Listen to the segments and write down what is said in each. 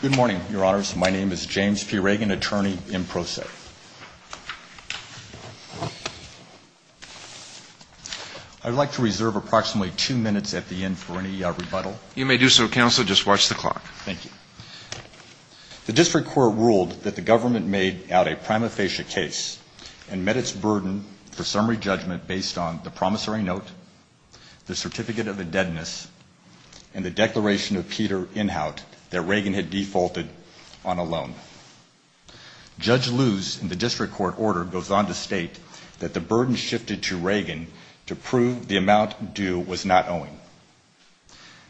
Good morning, your honors. My name is James P. Ragan, attorney in pro se. I would like to reserve approximately two minutes at the end for any rebuttal. You may do so, counsel. Just watch the clock. Thank you. The district court ruled that the government made out a prima facie case and met its burden for summary judgment based on the promissory note, the certificate of a deadness, and the declaration of Peter Inhout that Ragan had defaulted on a loan. Judge Luz in the district court order goes on to state that the burden shifted to Ragan to prove the amount due was not owing.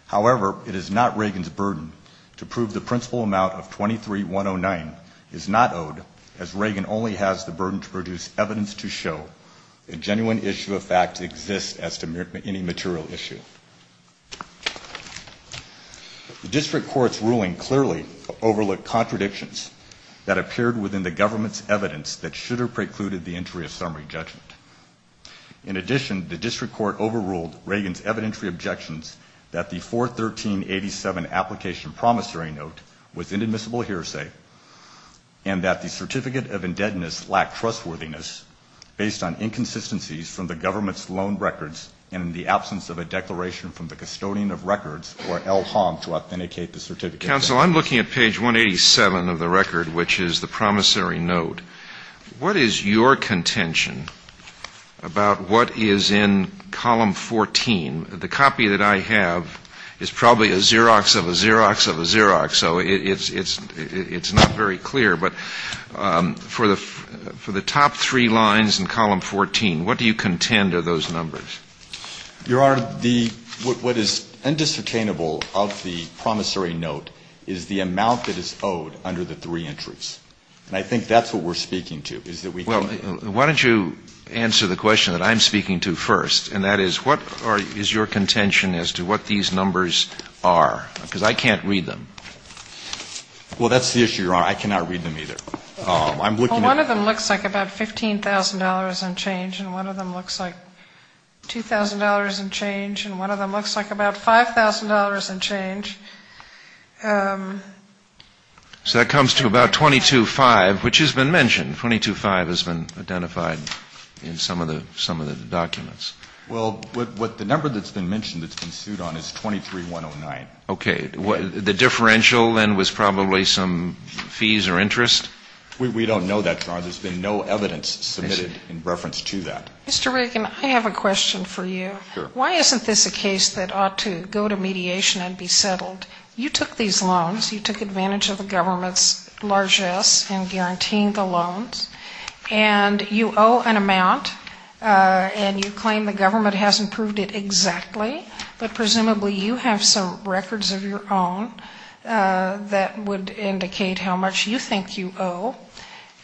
However, it is not Ragan's burden to prove the principal amount of 23,109 is not owed, as Ragan only has the burden to produce evidence to show that a genuine issue of fact exists as to any material issue. The district court's ruling clearly overlooked contradictions that appeared within the government's evidence that should have precluded the entry of summary judgment. In addition, the district court overruled Ragan's evidentiary objections that the 41387 application promissory note was inadmissible hearsay and that the certificate of indebtedness lacked trustworthiness based on inconsistencies from the government's loan records and in the absence of a declaration from the custodian of records or L. Hong to authenticate the certificate. Counsel, I'm looking at page 187 of the record, which is the promissory note. What is your contention about what is in column 14? The copy that I have is probably a Xerox of a Xerox of a Xerox, so it's not very clear. But for the top three lines in column 14, what do you contend are those numbers? Your Honor, the – what is indiscernible of the promissory note is the amount that is owed under the three entries. And I think that's what we're speaking to, is that we think that. Well, why don't you answer the question that I'm speaking to first, and that is what is your contention as to what these numbers are? Because I can't read them. Well, that's the issue, Your Honor. I cannot read them either. Well, one of them looks like about $15,000 and change, and one of them looks like $2,000 and change, and one of them looks like about $5,000 and change. So that comes to about 22-5, which has been mentioned. 22-5 has been identified in some of the documents. Well, what the number that's been mentioned that's been sued on is 23-109. Okay. The differential then was probably some fees or interest? We don't know that, Your Honor. There's been no evidence submitted in reference to that. Mr. Reagan, I have a question for you. Sure. Why isn't this a case that ought to go to mediation and be settled? You took these loans. You took advantage of the government's largesse in guaranteeing the loans, and you owe an amount, and you claim the government hasn't proved it exactly, but presumably you have some records of your own that would indicate how much you think you owe.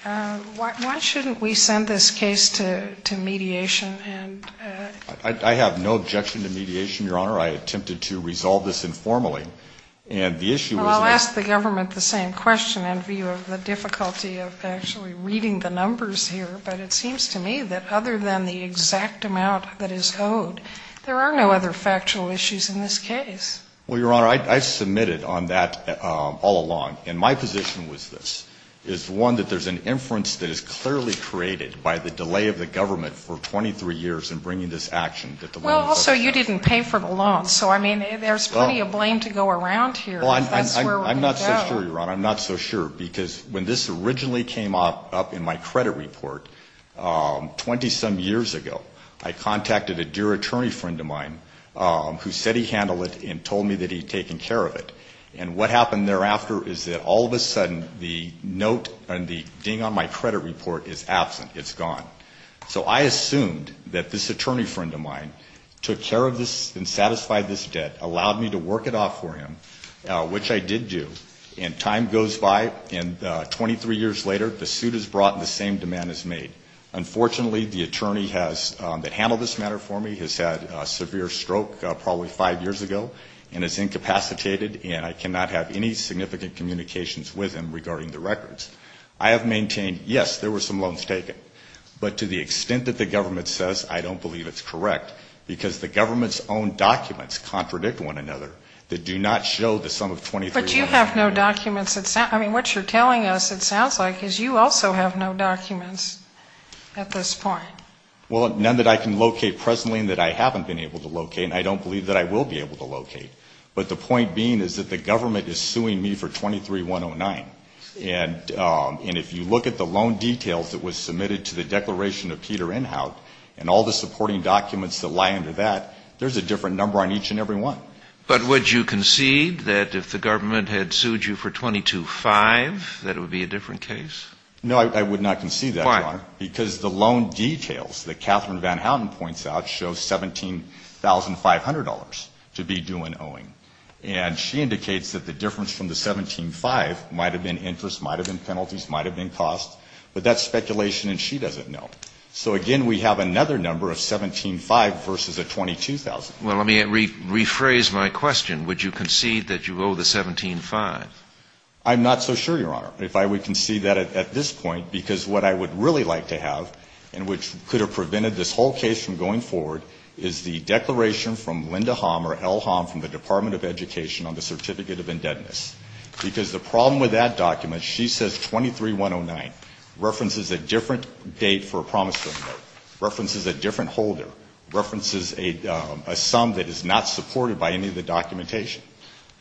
Why shouldn't we send this case to mediation? I have no objection to mediation, Your Honor. I attempted to resolve this informally. Well, I'll ask the government the same question in view of the difficulty of actually reading the numbers here, but it seems to me that other than the exact amount that is owed, there are no other factual issues in this case. Well, Your Honor, I submitted on that all along, and my position was this, is one that there's an inference that is clearly created by the delay of the government for 23 years in bringing this action. Well, also, you didn't pay for the loans, so, I mean, there's plenty of blame to go around here. I'm not so sure, Your Honor. I'm not so sure, because when this originally came up in my credit report 20-some years ago, I contacted a dear attorney friend of mine who said he handled it and told me that he'd taken care of it. And what happened thereafter is that all of a sudden the note and the ding on my credit report is absent. It's gone. So I assumed that this attorney friend of mine took care of this and satisfied this debt, allowed me to work it off for him, which I did do. And time goes by, and 23 years later, the suit is brought and the same demand is made. Unfortunately, the attorney that handled this matter for me has had a severe stroke probably five years ago and is incapacitated, and I cannot have any significant communications with him regarding the records. I have maintained, yes, there were some loans taken, but to the extent that the government says, I don't believe it's correct, because the government's own documents contradict one another that do not show the sum of 23109. But you have no documents. I mean, what you're telling us it sounds like is you also have no documents at this point. Well, none that I can locate presently and that I haven't been able to locate, and I don't believe that I will be able to locate. But the point being is that the government is suing me for 23109. And if you look at the loan details that was submitted to the declaration of Peter Inhout and all the supporting documents that lie under that, there's a different number on each and every one. But would you concede that if the government had sued you for 2205 that it would be a different case? No, I would not concede that, Your Honor. Why? Because the loan details that Catherine Van Houten points out show $17,500 to be due in owing. And she indicates that the difference from the $17,500 might have been interest, might have been penalties, might have been costs. But that's speculation and she doesn't know. So, again, we have another number of $17,500 versus a $22,000. Well, let me rephrase my question. Would you concede that you owe the $17,500? I'm not so sure, Your Honor, if I would concede that at this point, because what I would really like to have and which could have prevented this whole case from going forward is the declaration from Linda Hom or L. Hom from the Department of Education on the Certificate of Indebtedness. Because the problem with that document, she says 23-109, references a different date for a promise to be made, references a different holder, references a sum that is not supported by any of the documentation.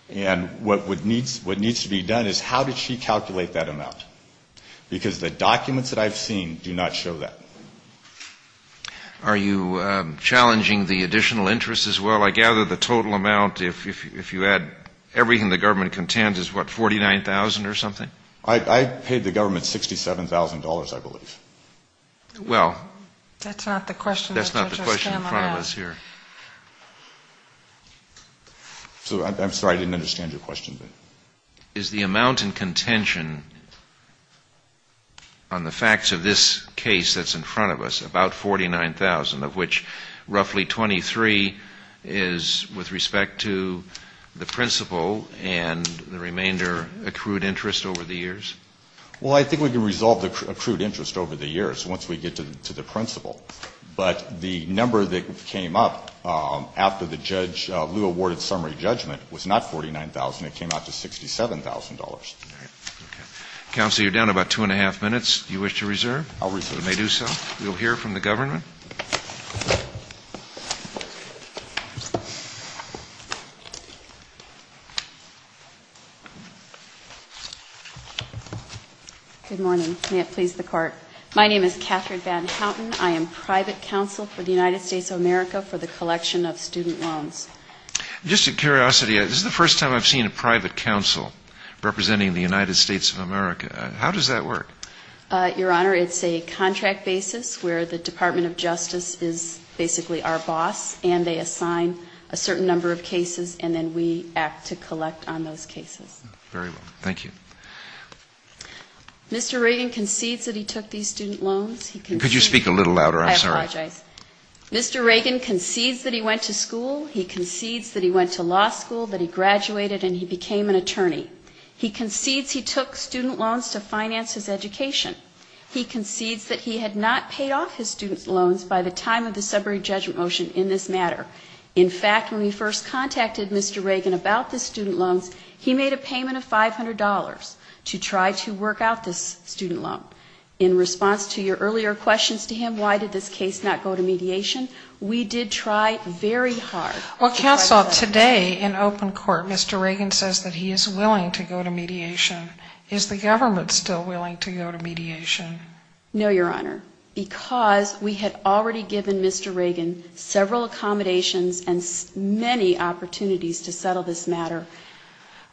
And what needs to be done is how did she calculate that amount? Because the documents that I've seen do not show that. Are you challenging the additional interest as well? I gather the total amount, if you add everything the government contends, is what, $49,000 or something? I paid the government $67,000, I believe. Well, that's not the question in front of us here. I'm sorry, I didn't understand your question. Is the amount in contention on the facts of this case that's in front of us, about $49,000, of which roughly 23 is with respect to the principal and the remainder accrued interest over the years? Well, I think we can resolve the accrued interest over the years once we get to the principal. But the number that came up after the judge, Lew, awarded summary judgment was not $49,000. It came out to $67,000. Counsel, you're down about two and a half minutes. Do you wish to reserve? I'll reserve. You may do so. We'll hear from the government. Good morning. May it please the Court. My name is Catherine Van Houten. I am private counsel for the United States of America for the collection of student loans. Just out of curiosity, this is the first time I've seen a private counsel representing the United States of America. How does that work? Your Honor, it's a contract basis where the Department of Justice is basically our boss, and they assign a certain number of cases, and then we act to collect on those cases. Very well. Thank you. Mr. Reagan concedes that he took these student loans. Could you speak a little louder? I apologize. Mr. Reagan concedes that he went to school. He concedes that he went to law school, that he graduated, and he became an attorney. He concedes he took student loans to finance his education. He concedes that he had not paid off his student loans by the time of the summary judgment motion in this matter. In fact, when we first contacted Mr. Reagan about the student loans, he made a payment of $500 to try to work out this student loan. In response to your earlier questions to him, why did this case not go to mediation, we did try very hard. Well, counsel, today in open court, Mr. Reagan says that he is willing to go to mediation. Is the government still willing to go to mediation? No, Your Honor, because we had already given Mr. Reagan several accommodations and many opportunities to settle this matter.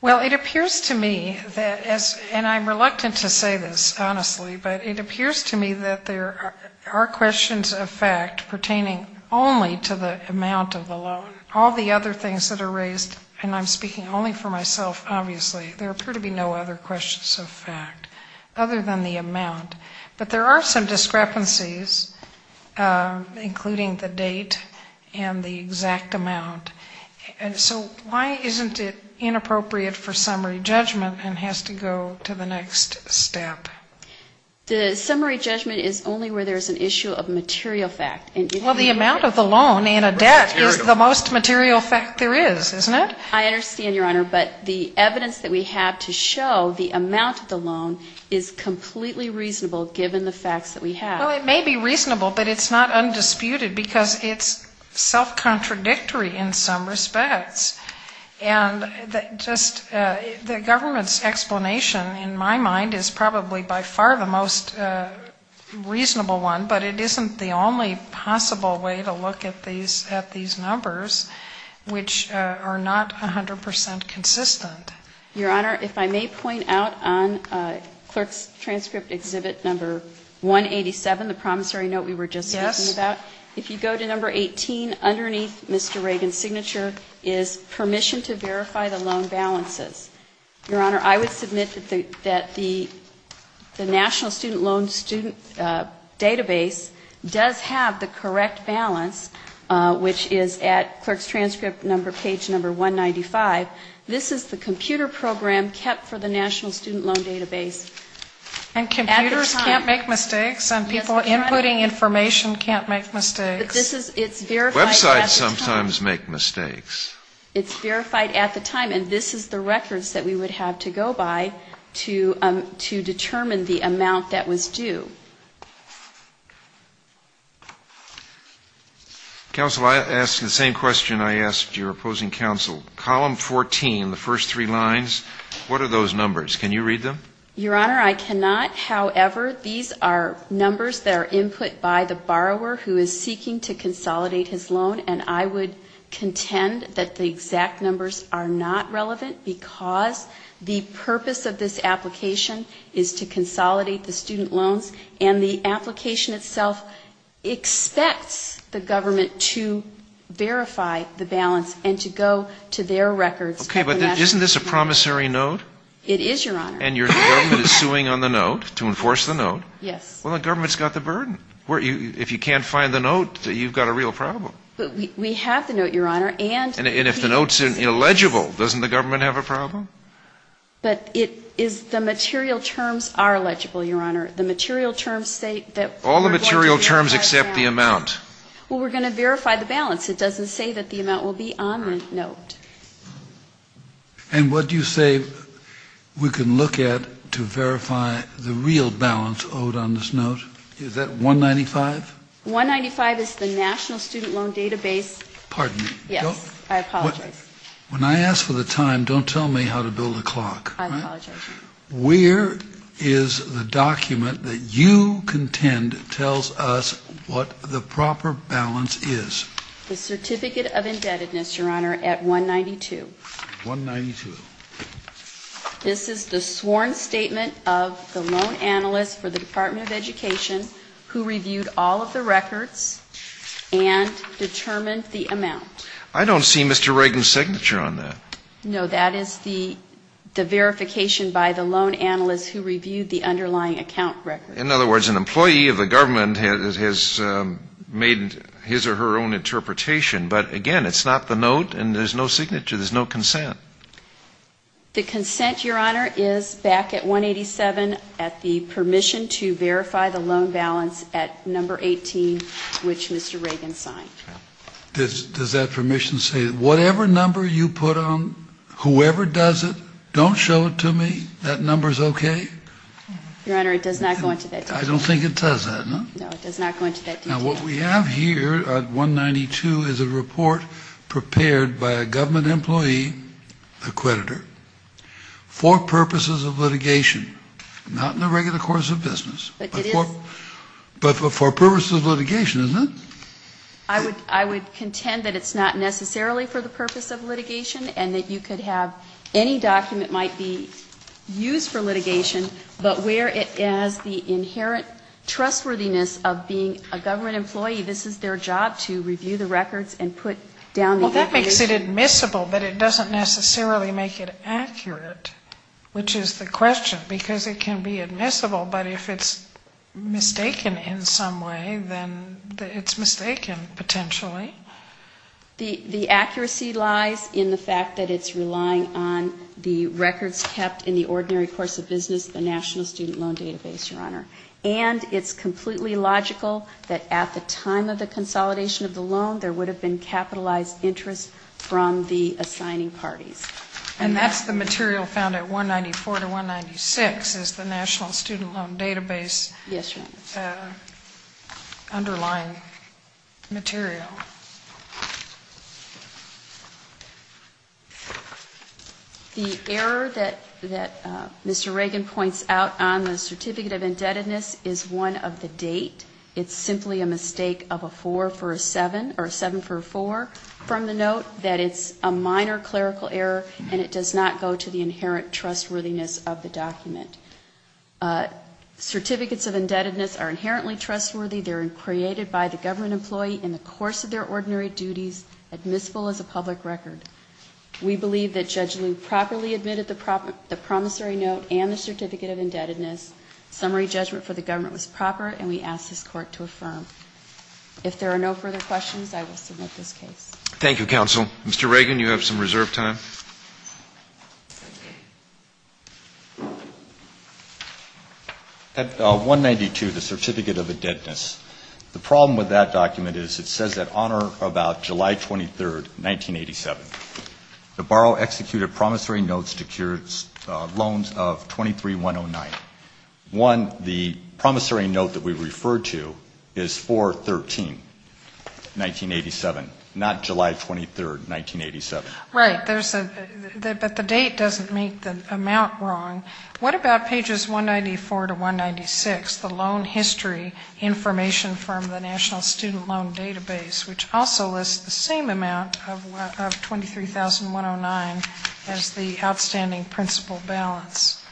Well, it appears to me that, and I'm reluctant to say this, honestly, but it appears to me that there are questions of fact pertaining only to the amount of the loan. All the other things that are raised, and I'm speaking only for myself, obviously, there appear to be no other questions of fact other than the amount. But there are some discrepancies, including the date and the exact amount. And so why isn't it inappropriate for summary judgment and has to go to the next step? The summary judgment is only where there's an issue of material fact. Well, the amount of the loan in a debt is the most material fact there is, isn't it? I understand, Your Honor, but the evidence that we have to show the amount of the loan is completely reasonable given the facts that we have. Well, it may be reasonable, but it's not undisputed because it's self-contradictory in some respects. And just the government's explanation, in my mind, is probably by far the most reasonable one, but it isn't the only possible way to look at these numbers, which are not 100 percent consistent. Your Honor, if I may point out on Clerk's Transcript Exhibit No. 187, the promissory note we were just talking about, if you go to No. 18, underneath Mr. Reagan's signature is permission to verify the loan balances. Your Honor, I would submit that the National Student Loan Student Database does have the correct balance, which is at Clerk's Transcript Page No. 195. This is the computer program kept for the National Student Loan Database. And computers can't make mistakes, and people inputting information can't make mistakes. Websites sometimes make mistakes. It's verified at the time, and this is the records that we would have to go by to determine the amount that was due. Counsel, I ask the same question I asked your opposing counsel. Column 14, the first three lines, what are those numbers? Can you read them? Your Honor, I cannot. However, these are numbers that are input by the borrower who is seeking to consolidate his loan, and I would contend that the exact numbers are not relevant because the purpose of this application is to consolidate the student loans and the application itself expects the government to verify the balance and to go to their records at the National Student Loan. Okay, but isn't this a promissory note? It is, Your Honor. And your government is suing on the note to enforce the note. Yes. Well, the government's got the burden. If you can't find the note, you've got a real problem. We have the note, Your Honor. And if the note's illegible, doesn't the government have a problem? But it is the material terms are illegible, Your Honor. All the material terms except the amount. Well, we're going to verify the balance. It doesn't say that the amount will be on the note. And what do you say we can look at to verify the real balance owed on this note? Is that 195? 195 is the National Student Loan database. Pardon me. Yes, I apologize. When I ask for the time, don't tell me how to build a clock. I apologize. Where is the document that you contend tells us what the proper balance is? The Certificate of Indebtedness, Your Honor, at 192. 192. This is the sworn statement of the loan analyst for the Department of Education who reviewed all of the records and determined the amount. I don't see Mr. Reagan's signature on that. No, that is the verification by the loan analyst who reviewed the underlying account record. In other words, an employee of the government has made his or her own interpretation. But, again, it's not the note, and there's no signature. There's no consent. The consent, Your Honor, is back at 187 at the permission to verify the loan balance at number 18, which Mr. Reagan signed. Does that permission say whatever number you put on, whoever does it, don't show it to me, that number's okay? Your Honor, it does not go into that detail. I don't think it does that, no? No, it does not go into that detail. Now, what we have here at 192 is a report prepared by a government employee, a creditor, for purposes of litigation. Not in the regular course of business, but for purposes of litigation, isn't it? I would contend that it's not necessarily for the purpose of litigation, and that you could have any document might be used for litigation, but where it has the inherent trustworthiness of being a government employee, this is their job to review the records and put down the evidence. Well, that makes it admissible, but it doesn't necessarily make it accurate, which is the question, because it can be admissible, but if it's mistaken in some way, then it's mistaken, potentially. The accuracy lies in the fact that it's relying on the records kept in the ordinary course of business, the National Student Loan Database, Your Honor. And it's completely logical that at the time of the consolidation of the loan, there would have been capitalized interest from the assigning parties. And that's the material found at 194 to 196 is the National Student Loan Database. Yes, Your Honor. Underlying material. The error that Mr. Reagan points out on the certificate of indebtedness is one of the date. It's simply a mistake of a four for a seven, or a seven for a four, from the note that it's a minor clerical error, and it does not go to the inherent trustworthiness of the document. Certificates of indebtedness are inherently trustworthy. They're created by the government employee in the course of their ordinary duties, admissible as a public record. We believe that Judge Liu properly admitted the promissory note and the certificate of indebtedness. Summary judgment for the government was proper, and we ask this Court to affirm. If there are no further questions, I will submit this case. Thank you, Counsel. Mr. Reagan, you have some reserve time. At 192, the certificate of indebtedness, the problem with that document is it says that on or about July 23, 1987, the borrower executed promissory notes to secure loans of 23,109. One, the promissory note that we refer to is 4-13-1987, not July 23, 1987. Right. But the date doesn't make the amount wrong. What about pages 194 to 196, the loan history information from the National Student Loan Database, which also lists the same amount of 23,109 as the outstanding principal balance?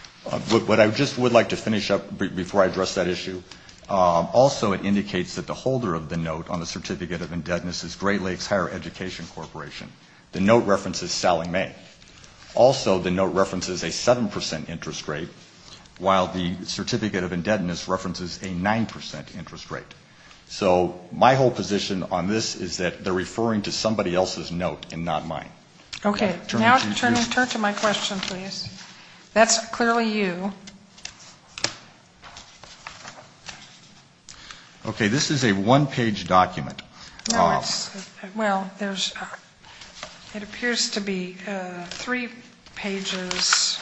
What I just would like to finish up before I address that issue, also it indicates that the holder of the note on the certificate of indebtedness is Great Lakes Higher Education Corporation. The note references Sally May. Also, the note references a 7 percent interest rate, while the certificate of indebtedness references a 9 percent interest rate. So my whole position on this is that they're referring to somebody else's note and not mine. Okay. Now turn to my question, please. That's clearly you. Okay, this is a one-page document. Well, it appears to be three pages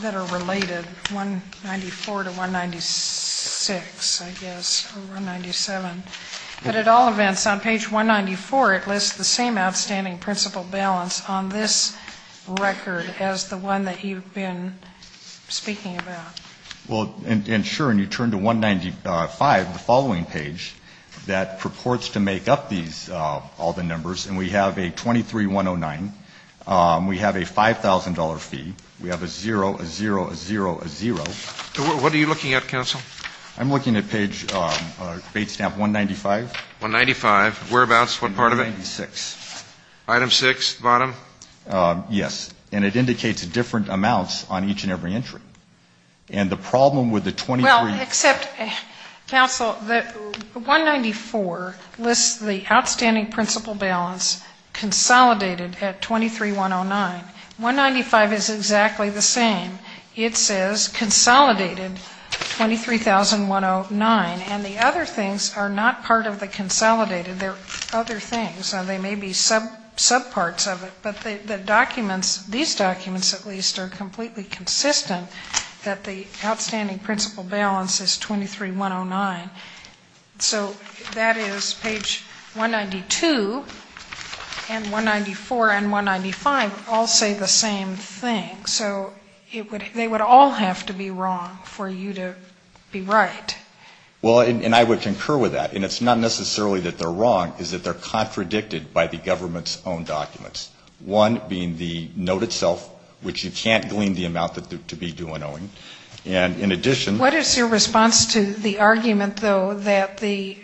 that are related, 194 to 196, I guess, or 197. But at all events, on page 194, it lists the same outstanding principal balance on this record as the one that you've been speaking about. Well, and sure, and you turn to 195, the following page, that purports to make up these, all the numbers. And we have a 23,109. We have a $5,000 fee. We have a 0, a 0, a 0, a 0. What are you looking at, counsel? I'm looking at page, date stamp 195. 195. Whereabouts? What part of it? 196. Item 6, bottom? Yes. And it indicates different amounts on each and every entry. And the problem with the 23. Well, except, counsel, 194 lists the outstanding principal balance consolidated at 23,109. 195 is exactly the same. It says consolidated 23,109. And the other things are not part of the consolidated. They're other things. They may be subparts of it. But the documents, these documents at least, are completely consistent that the outstanding principal balance is 23,109. So that is page 192 and 194 and 195 all say the same thing. So they would all have to be wrong for you to be right. Well, and I would concur with that. And it's not necessarily that they're wrong. It's that they're contradicted by the government's own documents. One being the note itself, which you can't glean the amount to be due an owing. And in addition to that. What is your response to the argument, though, that the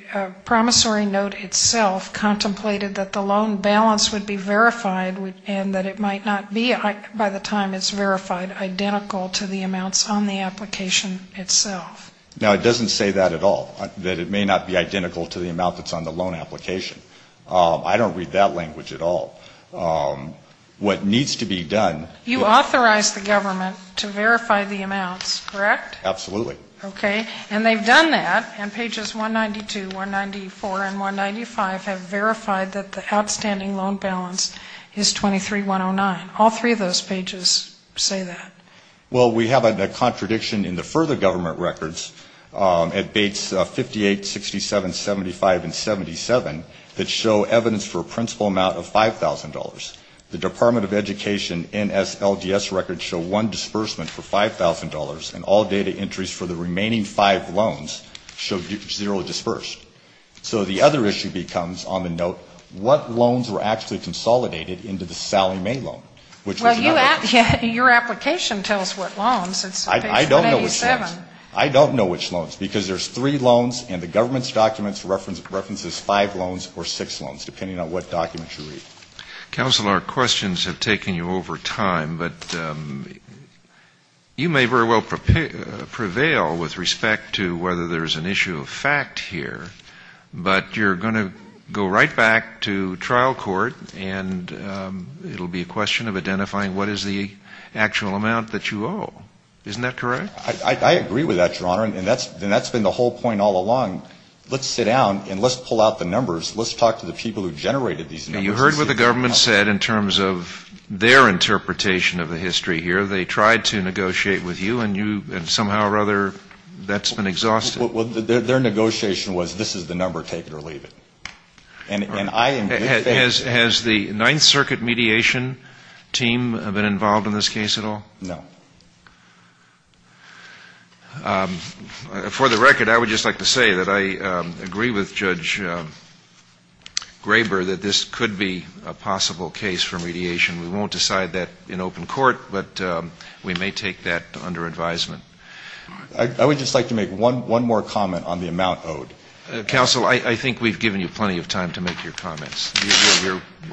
promissory note itself contemplated that the loan balance would be verified and that it might not be by the time it's verified identical to the amounts on the application itself? Now, it doesn't say that at all. That it may not be identical to the amount that's on the loan application. I don't read that language at all. What needs to be done. You authorize the government to verify the amounts, correct? Absolutely. Okay. And they've done that. And pages 192, 194, and 195 have verified that the outstanding loan balance is 23,109. All three of those pages say that. Well, we have a contradiction in the further government records at Bates 58, 67, 75, and 77 that show evidence for a principal amount of $5,000. The Department of Education NSLGS records show one disbursement for $5,000, and all data entries for the remaining five loans show zero disbursement. So the other issue becomes on the note, what loans were actually consolidated into the Sally May loan? Well, your application tells what loans. It's page 187. I don't know which loans. I don't know which loans, because there's three loans, and the government's documents references five loans or six loans, depending on what documents you read. Counsel, our questions have taken you over time, but you may very well prevail with respect to whether there's an issue of fact here, but you're going to go right back to trial court, and it will be a question of identifying what is the actual amount that you owe. Isn't that correct? I agree with that, Your Honor, and that's been the whole point all along. Let's sit down and let's pull out the numbers. Let's talk to the people who generated these numbers. Now, you heard what the government said in terms of their interpretation of the history here. They tried to negotiate with you, and somehow or other that's been exhausted. Well, their negotiation was this is the number, take it or leave it. Has the Ninth Circuit mediation team been involved in this case at all? No. For the record, I would just like to say that I agree with Judge Graber that this could be a possible case for mediation. We won't decide that in open court, but we may take that under advisement. I would just like to make one more comment on the amount owed. Counsel, I think we've given you plenty of time to make your comments.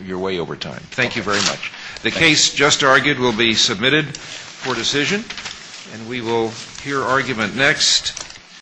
You're way over time. Thank you very much. The case just argued will be submitted for decision, and we will hear argument next.